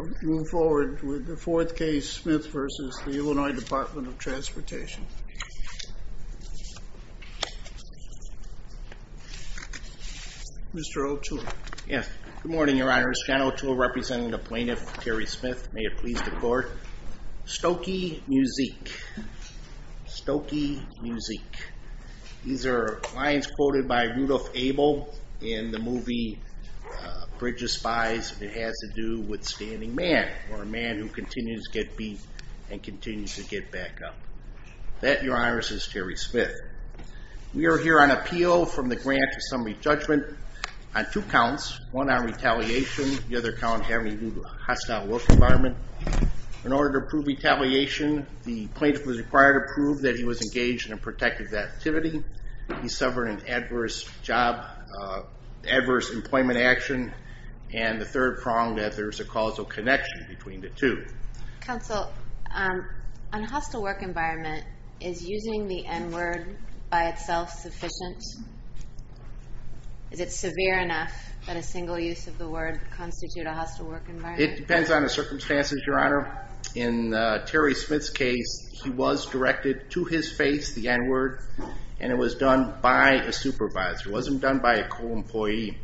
Mr. O'Toole. Yes, good morning your honors. John O'Toole representing the plaintiff Terry Smith. May it please the court. Stokey Muzik. Stokey Muzik. These are lines quoted by who continues to get beat and continues to get back up. That your honors is Terry Smith. We are here on appeal from the grant to summary judgment on two counts. One on retaliation, the other count having hostile work environment. In order to prove retaliation, the plaintiff was required to prove that he was engaged in a between the two. Counsel, on hostile work environment, is using the n-word by itself sufficient? Is it severe enough that a single use of the word constitute a hostile work environment? It depends on the circumstances your honor. In Terry Smith's case, he was directed to his face the n-word and it was done by a supervisor. It wasn't done by a co-employee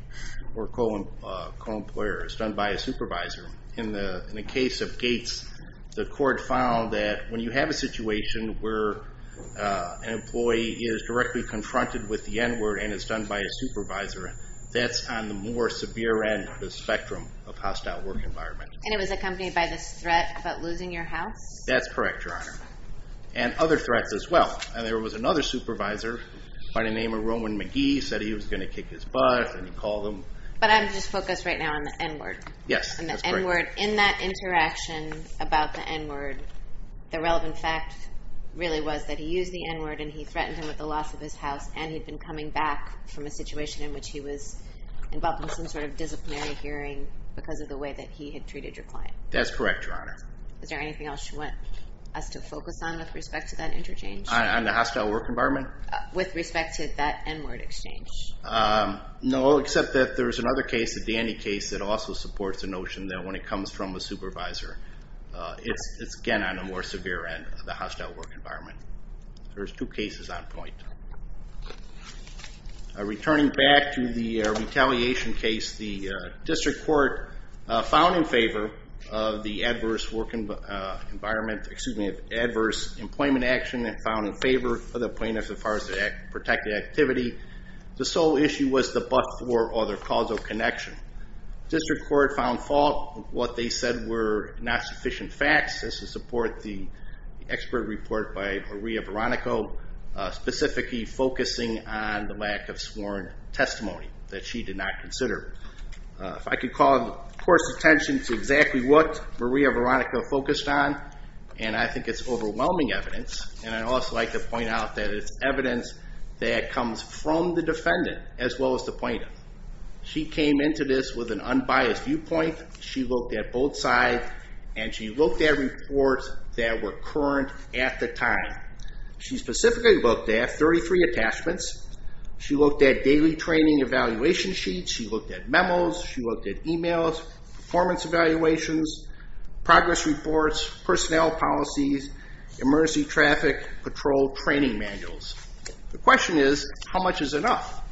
or co-employer. It was done by a supervisor. In the case of Gates, the court found that when you have a situation where an employee is directly confronted with the n-word and it's done by a supervisor, that's on the more severe end of the spectrum of hostile work environment. And it was accompanied by this threat about losing your house? That's correct your honor. And other threats as well. And there was another supervisor by the name of Roman McGee said he was going to kick his butt and he called him. But I'm just focused right now on the n-word. Yes, that's correct your honor. And the n-word. In that interaction about the n-word, the relevant fact really was that he used the n-word and he threatened him with the loss of his house and he'd been coming back from a situation in which he was involved in some sort of disciplinary hearing because of the way that he had treated your client. That's correct your honor. Is there anything else you want us to focus on with respect to that interchange? On the hostile work environment? With respect to that n-word exchange. No, except that there was another case, a dandy case, that also supports the notion that when a client comes from a supervisor, it's again on a more severe end of the hostile work environment. There's two cases on point. Returning back to the retaliation case, the district court found in favor of the adverse work environment, excuse me, adverse employment action and found in favor of the plaintiff as far as the protected activity. The sole issue was the bust or other causal connection. District court found fault with what they said were not sufficient facts. This is to support the expert report by Maria Veronica, specifically focusing on the lack of sworn testimony that she did not consider. If I could call the court's attention to exactly what Maria Veronica focused on, and I think it's overwhelming evidence, and I'd also like to point out that it's evidence that comes from the defendant as well as the plaintiff. She came into this with an unbiased viewpoint. She looked at both sides, and she looked at reports that were current at the time. She specifically looked at 33 attachments. She looked at daily training evaluation sheets. She looked at memos. She looked at emails, performance evaluations, progress reports, personnel policies, emergency traffic patrol training manuals. The question is, how much is enough?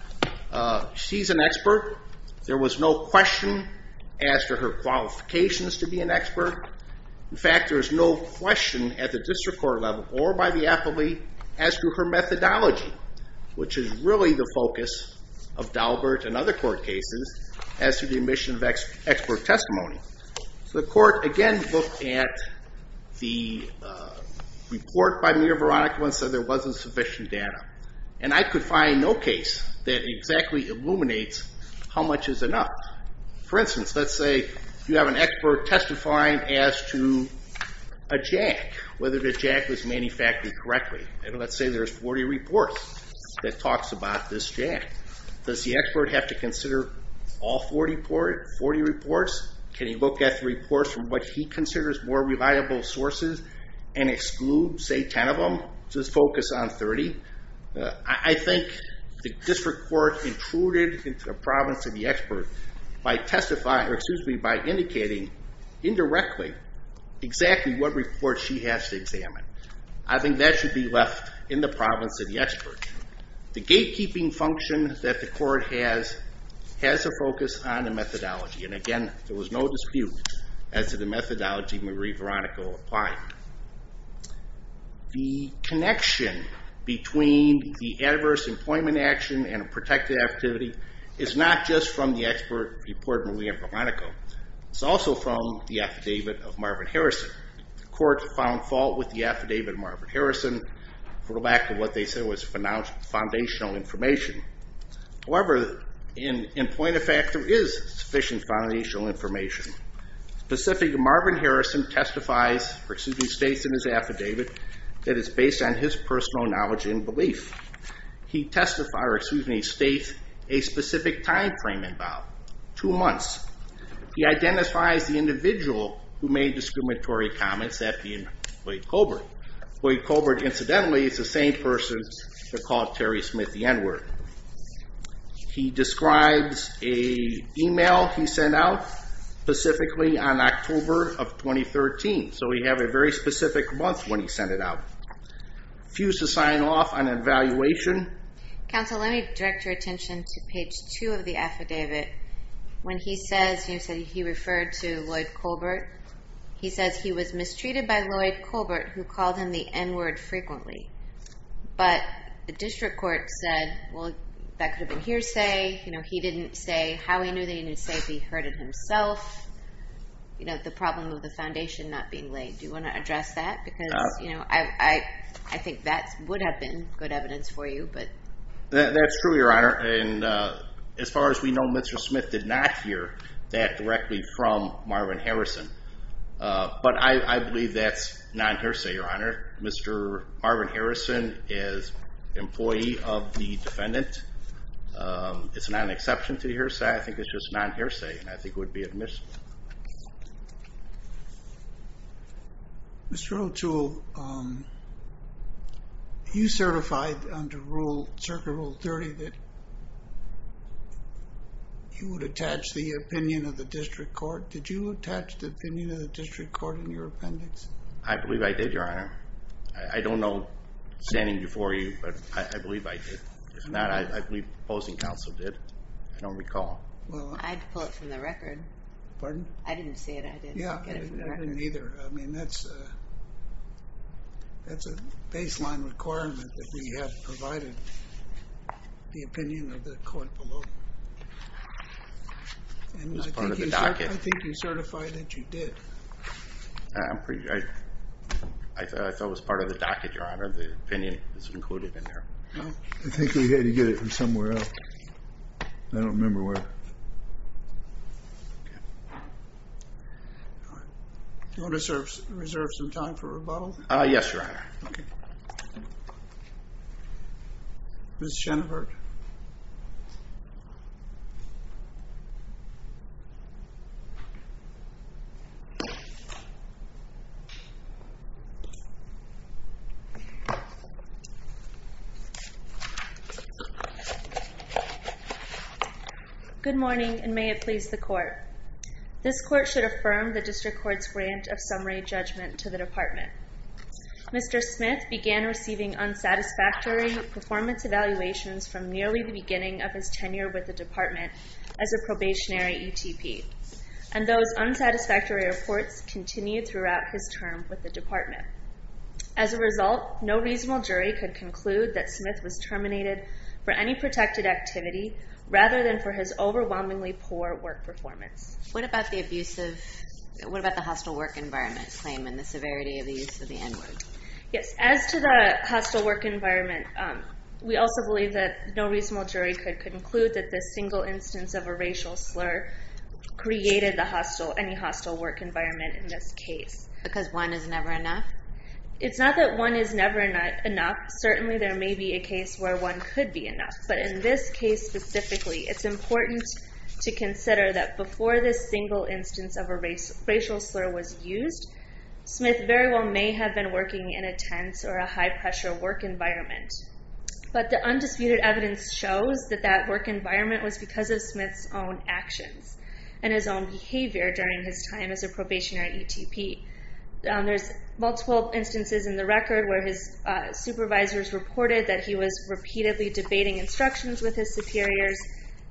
She's an expert. There was no question as to her qualifications. In fact, there is no question at the district court level or by the appellee as to her methodology, which is really the focus of Daubert and other court cases as to the admission of expert testimony. So the court again looked at the report by Maria Veronica and said there wasn't sufficient data. And I could find no case that exactly illuminates how much is enough. For instance, let's say you have an expert testifying as to a jack, whether the jack was manufactured correctly. Let's say there's 40 reports that talks about this jack. Does the expert have to consider all 40 reports? Can he look at the reports from what he considers more reliable sources and exclude, say, 10 of them, just focus on 30? I think the district court intruded into the province of the expert by indicating indirectly exactly what reports she has to examine. I think that should be left in the province of the expert. The gatekeeping function that the court has has a focus on the methodology. And again, there was no dispute as to the methodology Maria Veronica applied. The connection between the adverse employment action and a protected activity is not just from the expert report Maria Veronica. It's also from the affidavit of Marvin Harrison. The court found fault with the affidavit of Marvin Harrison for lack of what they said was foundational information. However, in point of fact, there is sufficient foundational information. Marvin Harrison states in his affidavit that it's based on his personal knowledge and belief. He states a specific time frame involved, two months. He identifies the individual who made discriminatory comments, that being Lloyd Colbert. Lloyd Colbert, incidentally, is the same person that called Terry Smith the N-word. He describes an email he sent out specifically on October of 2013. So we have a very specific month when he sent it out. Refused to sign off on an evaluation. Counsel, let me direct your attention to page two of the affidavit. When he says he referred to Lloyd Colbert, he says he was mistreated by Lloyd Colbert, who called him the N-word frequently. But the district court said, well, that could have been hearsay. You know, he didn't say how he knew that he didn't say if he heard it himself. You know, the problem of the foundation not being laid. Do you want to address that? Because, you know, I think that would have been good evidence for you. That's true, Your Honor. And as far as we know, Mr. Smith did not hear that directly from Marvin Harrison. But I believe that's non-hearsay, Your Honor. Mr. Marvin Harrison is employee of the defendant. It's not an exception to hearsay. I think it's just non-hearsay. I think it would be admissible. Mr. O'Toole, you certified under Circa Rule 30 that you would attach the opinion of the district court. Did you attach the opinion of the district court in your appendix? I believe I did, Your Honor. I don't know standing before you, but I believe I did. If not, I believe the opposing counsel did. I don't recall. I had to pull it from the record. Pardon? I didn't see it. I didn't get it from the record. Yeah, I didn't either. I mean, that's a baseline requirement that we have provided, the opinion of the court below. And I think you certified that you did. I thought it was part of the docket, Your Honor, the opinion that's included in there. I think we had to get it from somewhere else. I don't remember where. Do you want to reserve some time for rebuttal? Yes, Your Honor. Ms. Schoenhardt. Good morning, and may it please the court. This court should affirm the district court's grant of summary judgment to the department. Mr. Smith began receiving unsatisfactory performance evaluations from nearly the beginning of his tenure with the department as a probationary ETP. And those unsatisfactory reports continued throughout his term with the department. As a result, no reasonable jury could conclude that Smith was terminated for any protected activity rather than for his overwhelmingly poor work performance. What about the hostile work environment claim and the severity of the use of the N-word? Because one is never enough? It's not that one is never enough. Certainly there may be a case where one could be enough. But in this case specifically, it's important to consider that before this single instance of a racial slur was used, Smith very well may have been working in a tense or a high-pressure work environment. But the undisputed evidence shows that that work environment was because of Smith's own actions and his own behavior during his time as a probationary ETP. There's multiple instances in the record where his supervisors reported that he was repeatedly debating instructions with his superiors,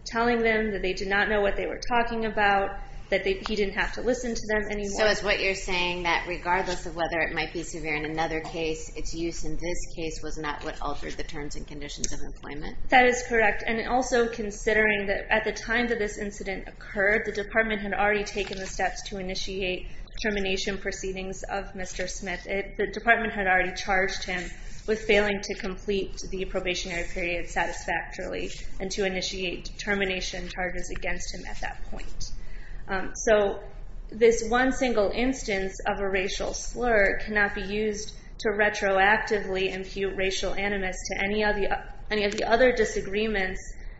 telling them that they did not know what they were talking about, that he didn't have to listen to them anymore. So is what you're saying that regardless of whether it might be severe in another case, its use in this case was not what altered the terms and conditions of employment? That is correct. And also considering that at the time that this incident occurred, the department had already taken the steps to initiate termination proceedings of Mr. Smith. The department had already charged him with failing to complete the probationary period satisfactorily and to initiate termination charges against him at that point. So this one single instance of a racial slur cannot be used to retroactively impute racial animus to any of the other disagreements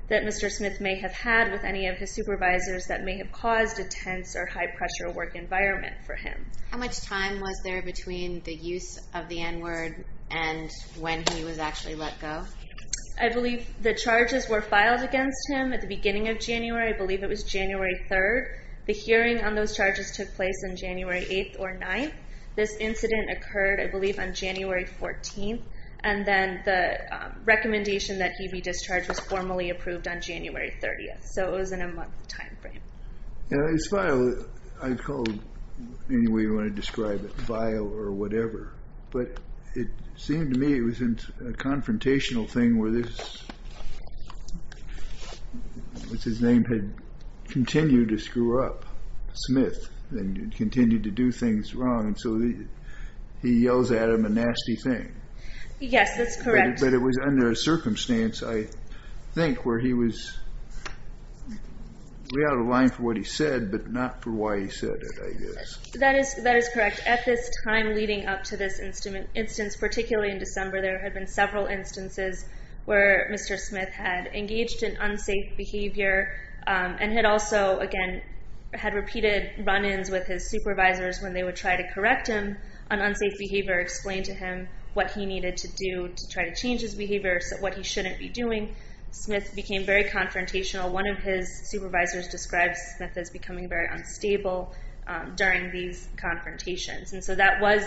that Mr. Smith may have had with any of his supervisors that may have caused a tense or high-pressure work environment for him. How much time was there between the use of the N-word and when he was actually let go? I believe the charges were filed against him at the beginning of January. I believe it was January 3rd. The hearing on those charges took place on January 8th or 9th. This incident occurred, I believe, on January 14th. And then the recommendation that he be discharged was formally approved on January 30th. So it was in a month time frame. His file, I'd call it any way you want to describe it, file or whatever. But it seemed to me it was a confrontational thing where this, which his name had continued to screw up, Smith, and continued to do things wrong. And so he yells at him a nasty thing. Yes, that's correct. But it was under a circumstance, I think, where he was way out of line for what he said, but not for why he said it, I guess. That is correct. At this time leading up to this instance, particularly in December, there had been several instances where Mr. Smith had engaged in unsafe behavior and had also, again, had repeated run-ins with his supervisors when they would try to correct him on unsafe behavior, explain to him what he needed to do to try to change his behavior, what he shouldn't be doing. Smith became very confrontational. One of his supervisors describes Smith as becoming very unstable during these confrontations. And so that was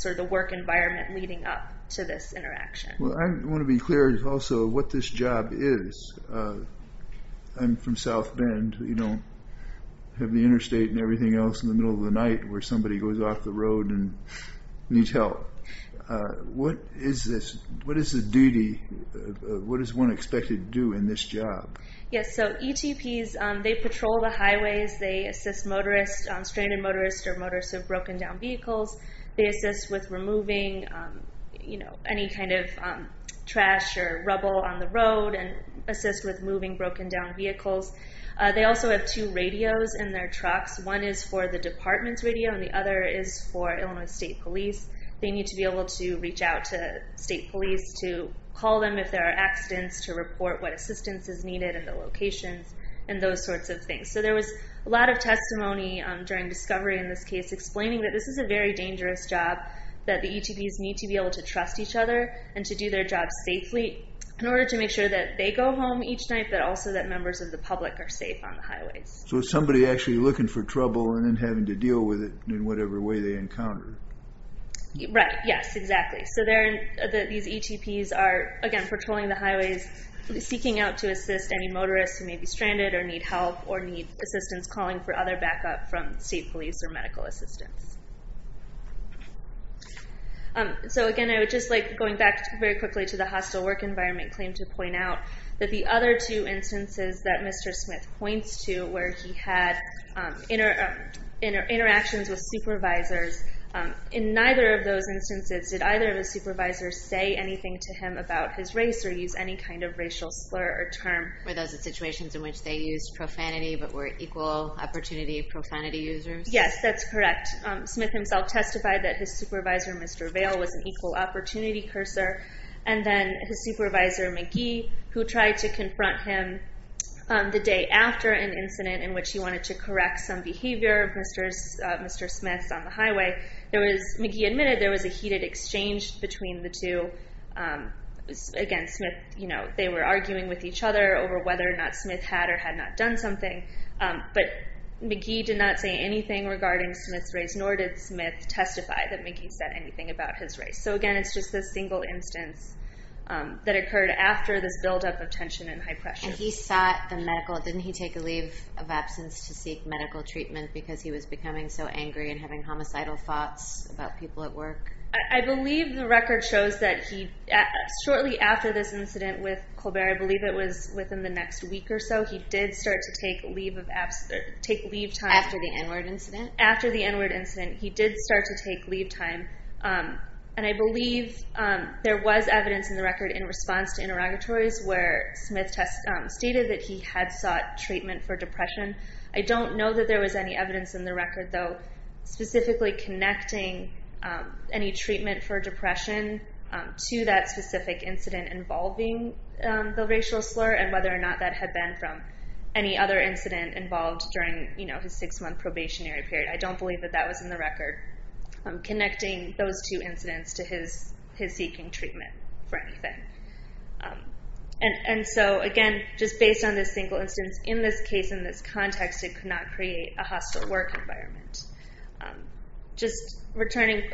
sort of the work environment leading up to this interaction. Well, I want to be clear also what this job is. I'm from South Bend. We don't have the interstate and everything else in the middle of the night where somebody goes off the road and needs help. What is this, what is the duty, what is one expected to do in this job? Yes, so ETPs, they patrol the highways. They assist motorists, stranded motorists or motorists with broken down vehicles. They assist with removing any kind of trash or rubble on the road and assist with moving broken down vehicles. They also have two radios in their trucks. One is for the department's radio and the other is for Illinois State Police. They need to be able to reach out to State Police to call them if there are accidents to report what assistance is needed and the locations and those sorts of things. So there was a lot of testimony during discovery in this case explaining that this is a very dangerous job, that the ETPs need to be able to trust each other and to do their job safely in order to make sure that they go home each night but also that members of the public are safe on the highways. So it's somebody actually looking for trouble and then having to deal with it in whatever way they encounter it. Right, yes, exactly. So these ETPs are, again, patrolling the highways seeking out to assist any motorists who may be stranded or need help or need assistance calling for other backup from State Police or medical assistance. So again, I would just like, going back very quickly to the hostile work environment claim to point out that the other two instances that Mr. Smith points to where he had interactions with supervisors, in neither of those instances did either of the supervisors say anything to him about his race or use any kind of racial slur or term. Were those the situations in which they used profanity but were equal opportunity profanity users? Yes, that's correct. Smith himself testified that his supervisor, Mr. Vail, was an equal opportunity cursor and then his supervisor, McGee, who tried to confront him the day after an incident in which he wanted to correct some behavior of Mr. Smith's on the highway. McGee admitted there was a heated exchange between the two. Again, they were arguing with each other over whether or not Smith had or had not done something, but McGee did not say anything regarding Smith's race nor did Smith testify that McGee said anything about his race. So again, it's just this single instance that occurred after this buildup of tension and high pressure. And he sought the medical, didn't he take a leave of absence to seek medical treatment because he was becoming so angry and having homicidal thoughts about people at work? I believe the record shows that he, shortly after this incident with Colbert, I believe it was within the next week or so, he did start to take leave time. After the N-word incident? After the N-word incident, he did start to take leave time. And I believe there was evidence in the record in response to interrogatories where Smith stated that he had sought treatment for depression. I don't know that there was any evidence in the record, though, specifically connecting any treatment for depression to that specific incident involving the racial slur and whether or not that had been from any other incident involved during his six-month probationary period. I don't believe that that was in the record, connecting those two incidents to his seeking treatment for anything. And so, again, just based on this single instance, in this case, in this context, it could not create a hostile work environment. Just returning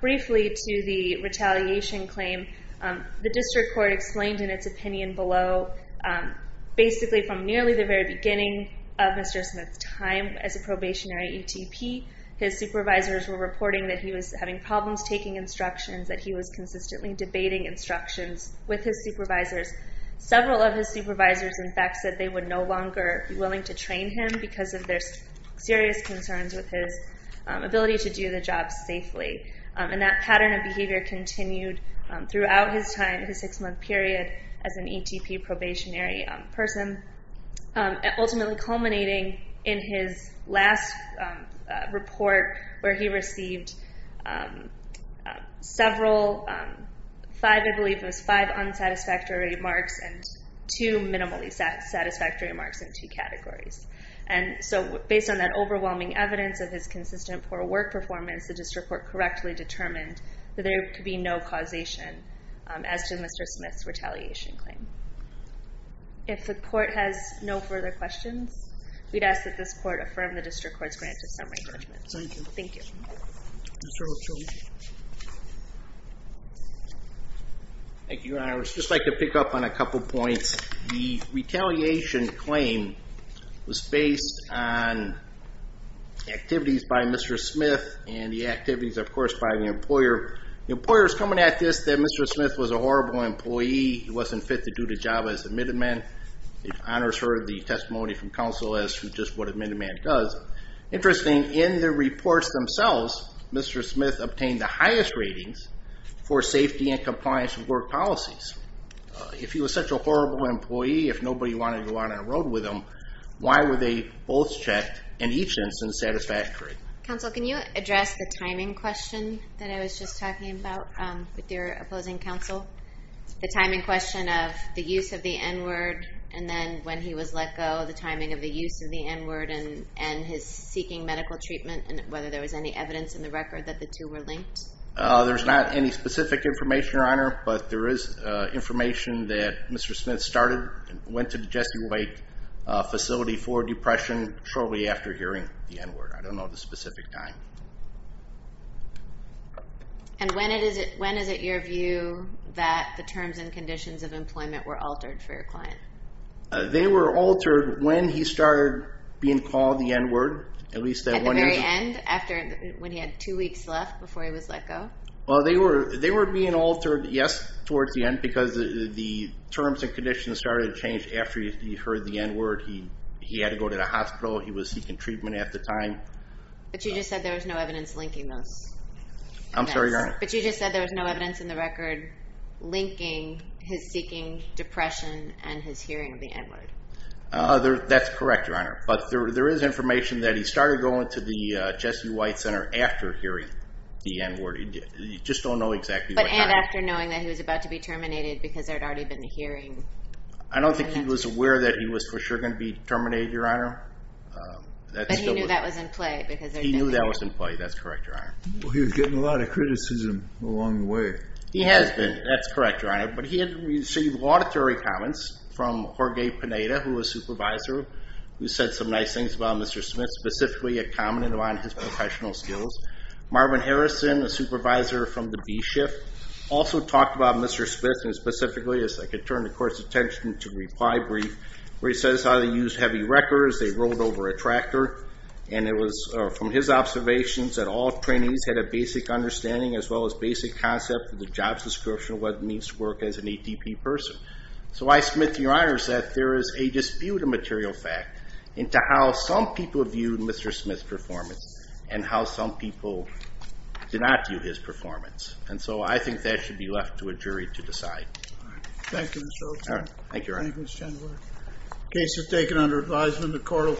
briefly to the retaliation claim, the district court explained in its opinion below, basically from nearly the very beginning of Mr. Smith's time as a probationary ETP, his supervisors were reporting that he was having problems taking instructions, that he was consistently debating instructions with his supervisors. Several of his supervisors, in fact, said they would no longer be willing to train him because of their serious concerns with his ability to do the job safely. And that pattern of behavior continued throughout his time, his six-month period as an ETP probationary person, ultimately culminating in his last report where he received five unsatisfactory remarks and two minimally satisfactory remarks in two categories. And so, based on that overwhelming evidence of his consistent poor work performance, the district court correctly determined that there could be no causation as to Mr. Smith's retaliation claim. If the court has no further questions, we'd ask that this court affirm the district court's grant of summary judgment. Thank you. Thank you. Mr. Ochoa. Thank you, Your Honor. I would just like to pick up on a couple points. The retaliation claim was based on activities by Mr. Smith and the activities, of course, by the employer. The employer is coming at this that Mr. Smith was a horrible employee. He wasn't fit to do the job as a middleman. If Your Honor has heard the testimony from counsel as to just what a middleman does. Interesting, in the reports themselves, Mr. Smith obtained the highest ratings for safety and compliance with work policies. If he was such a horrible employee, if nobody wanted to go out on the road with him, why were they both checked and each instance satisfactory? Counsel, can you address the timing question that I was just talking about with your opposing counsel? The timing question of the use of the N-word, and then when he was let go, the timing of the use of the N-word, and his seeking medical treatment, and whether there was any evidence in the record that the two were linked? There's not any specific information, Your Honor, but there is information that Mr. Smith started, went to the Jesse Wake facility for depression shortly after hearing the N-word. I don't know the specific time. And when is it your view that the terms and conditions of employment were altered for your client? They were altered when he started being called the N-word. At the very end, when he had two weeks left before he was let go? Well, they were being altered, yes, towards the end, because the terms and conditions started to change after he heard the N-word. He had to go to the hospital. He was seeking treatment at the time. But you just said there was no evidence linking those events. I'm sorry, Your Honor. But you just said there was no evidence in the record linking his seeking depression and his hearing of the N-word. That's correct, Your Honor, but there is information that he started going to the Jesse White Center after hearing the N-word. You just don't know exactly what time. And after knowing that he was about to be terminated because there had already been a hearing. I don't think he was aware that he was for sure going to be terminated, Your Honor. But he knew that was in play. He knew that was in play. That's correct, Your Honor. Well, he was getting a lot of criticism along the way. He has been. That's correct, Your Honor. But he had received laudatory comments from Jorge Pineda, who was supervisor, who said some nice things about Mr. Smith, specifically a comment on his professional skills. Marvin Harrison, the supervisor from the B-shift, also talked about Mr. Smith, and specifically, if I could turn the Court's attention to the reply brief, where he says how they used heavy wreckers, they rolled over a tractor, and it was from his observations that all trainees had a basic understanding as well as basic concept of the jobs description of what it means to work as an ATP person. So I submit to Your Honor that there is a dispute of material fact into how some people viewed Mr. Smith's performance and how some people did not view his performance. And so I think that should be left to a jury to decide. Thank you, Mr. O'Connor. Thank you, Your Honor. Thank you, Mr. Chamberlain.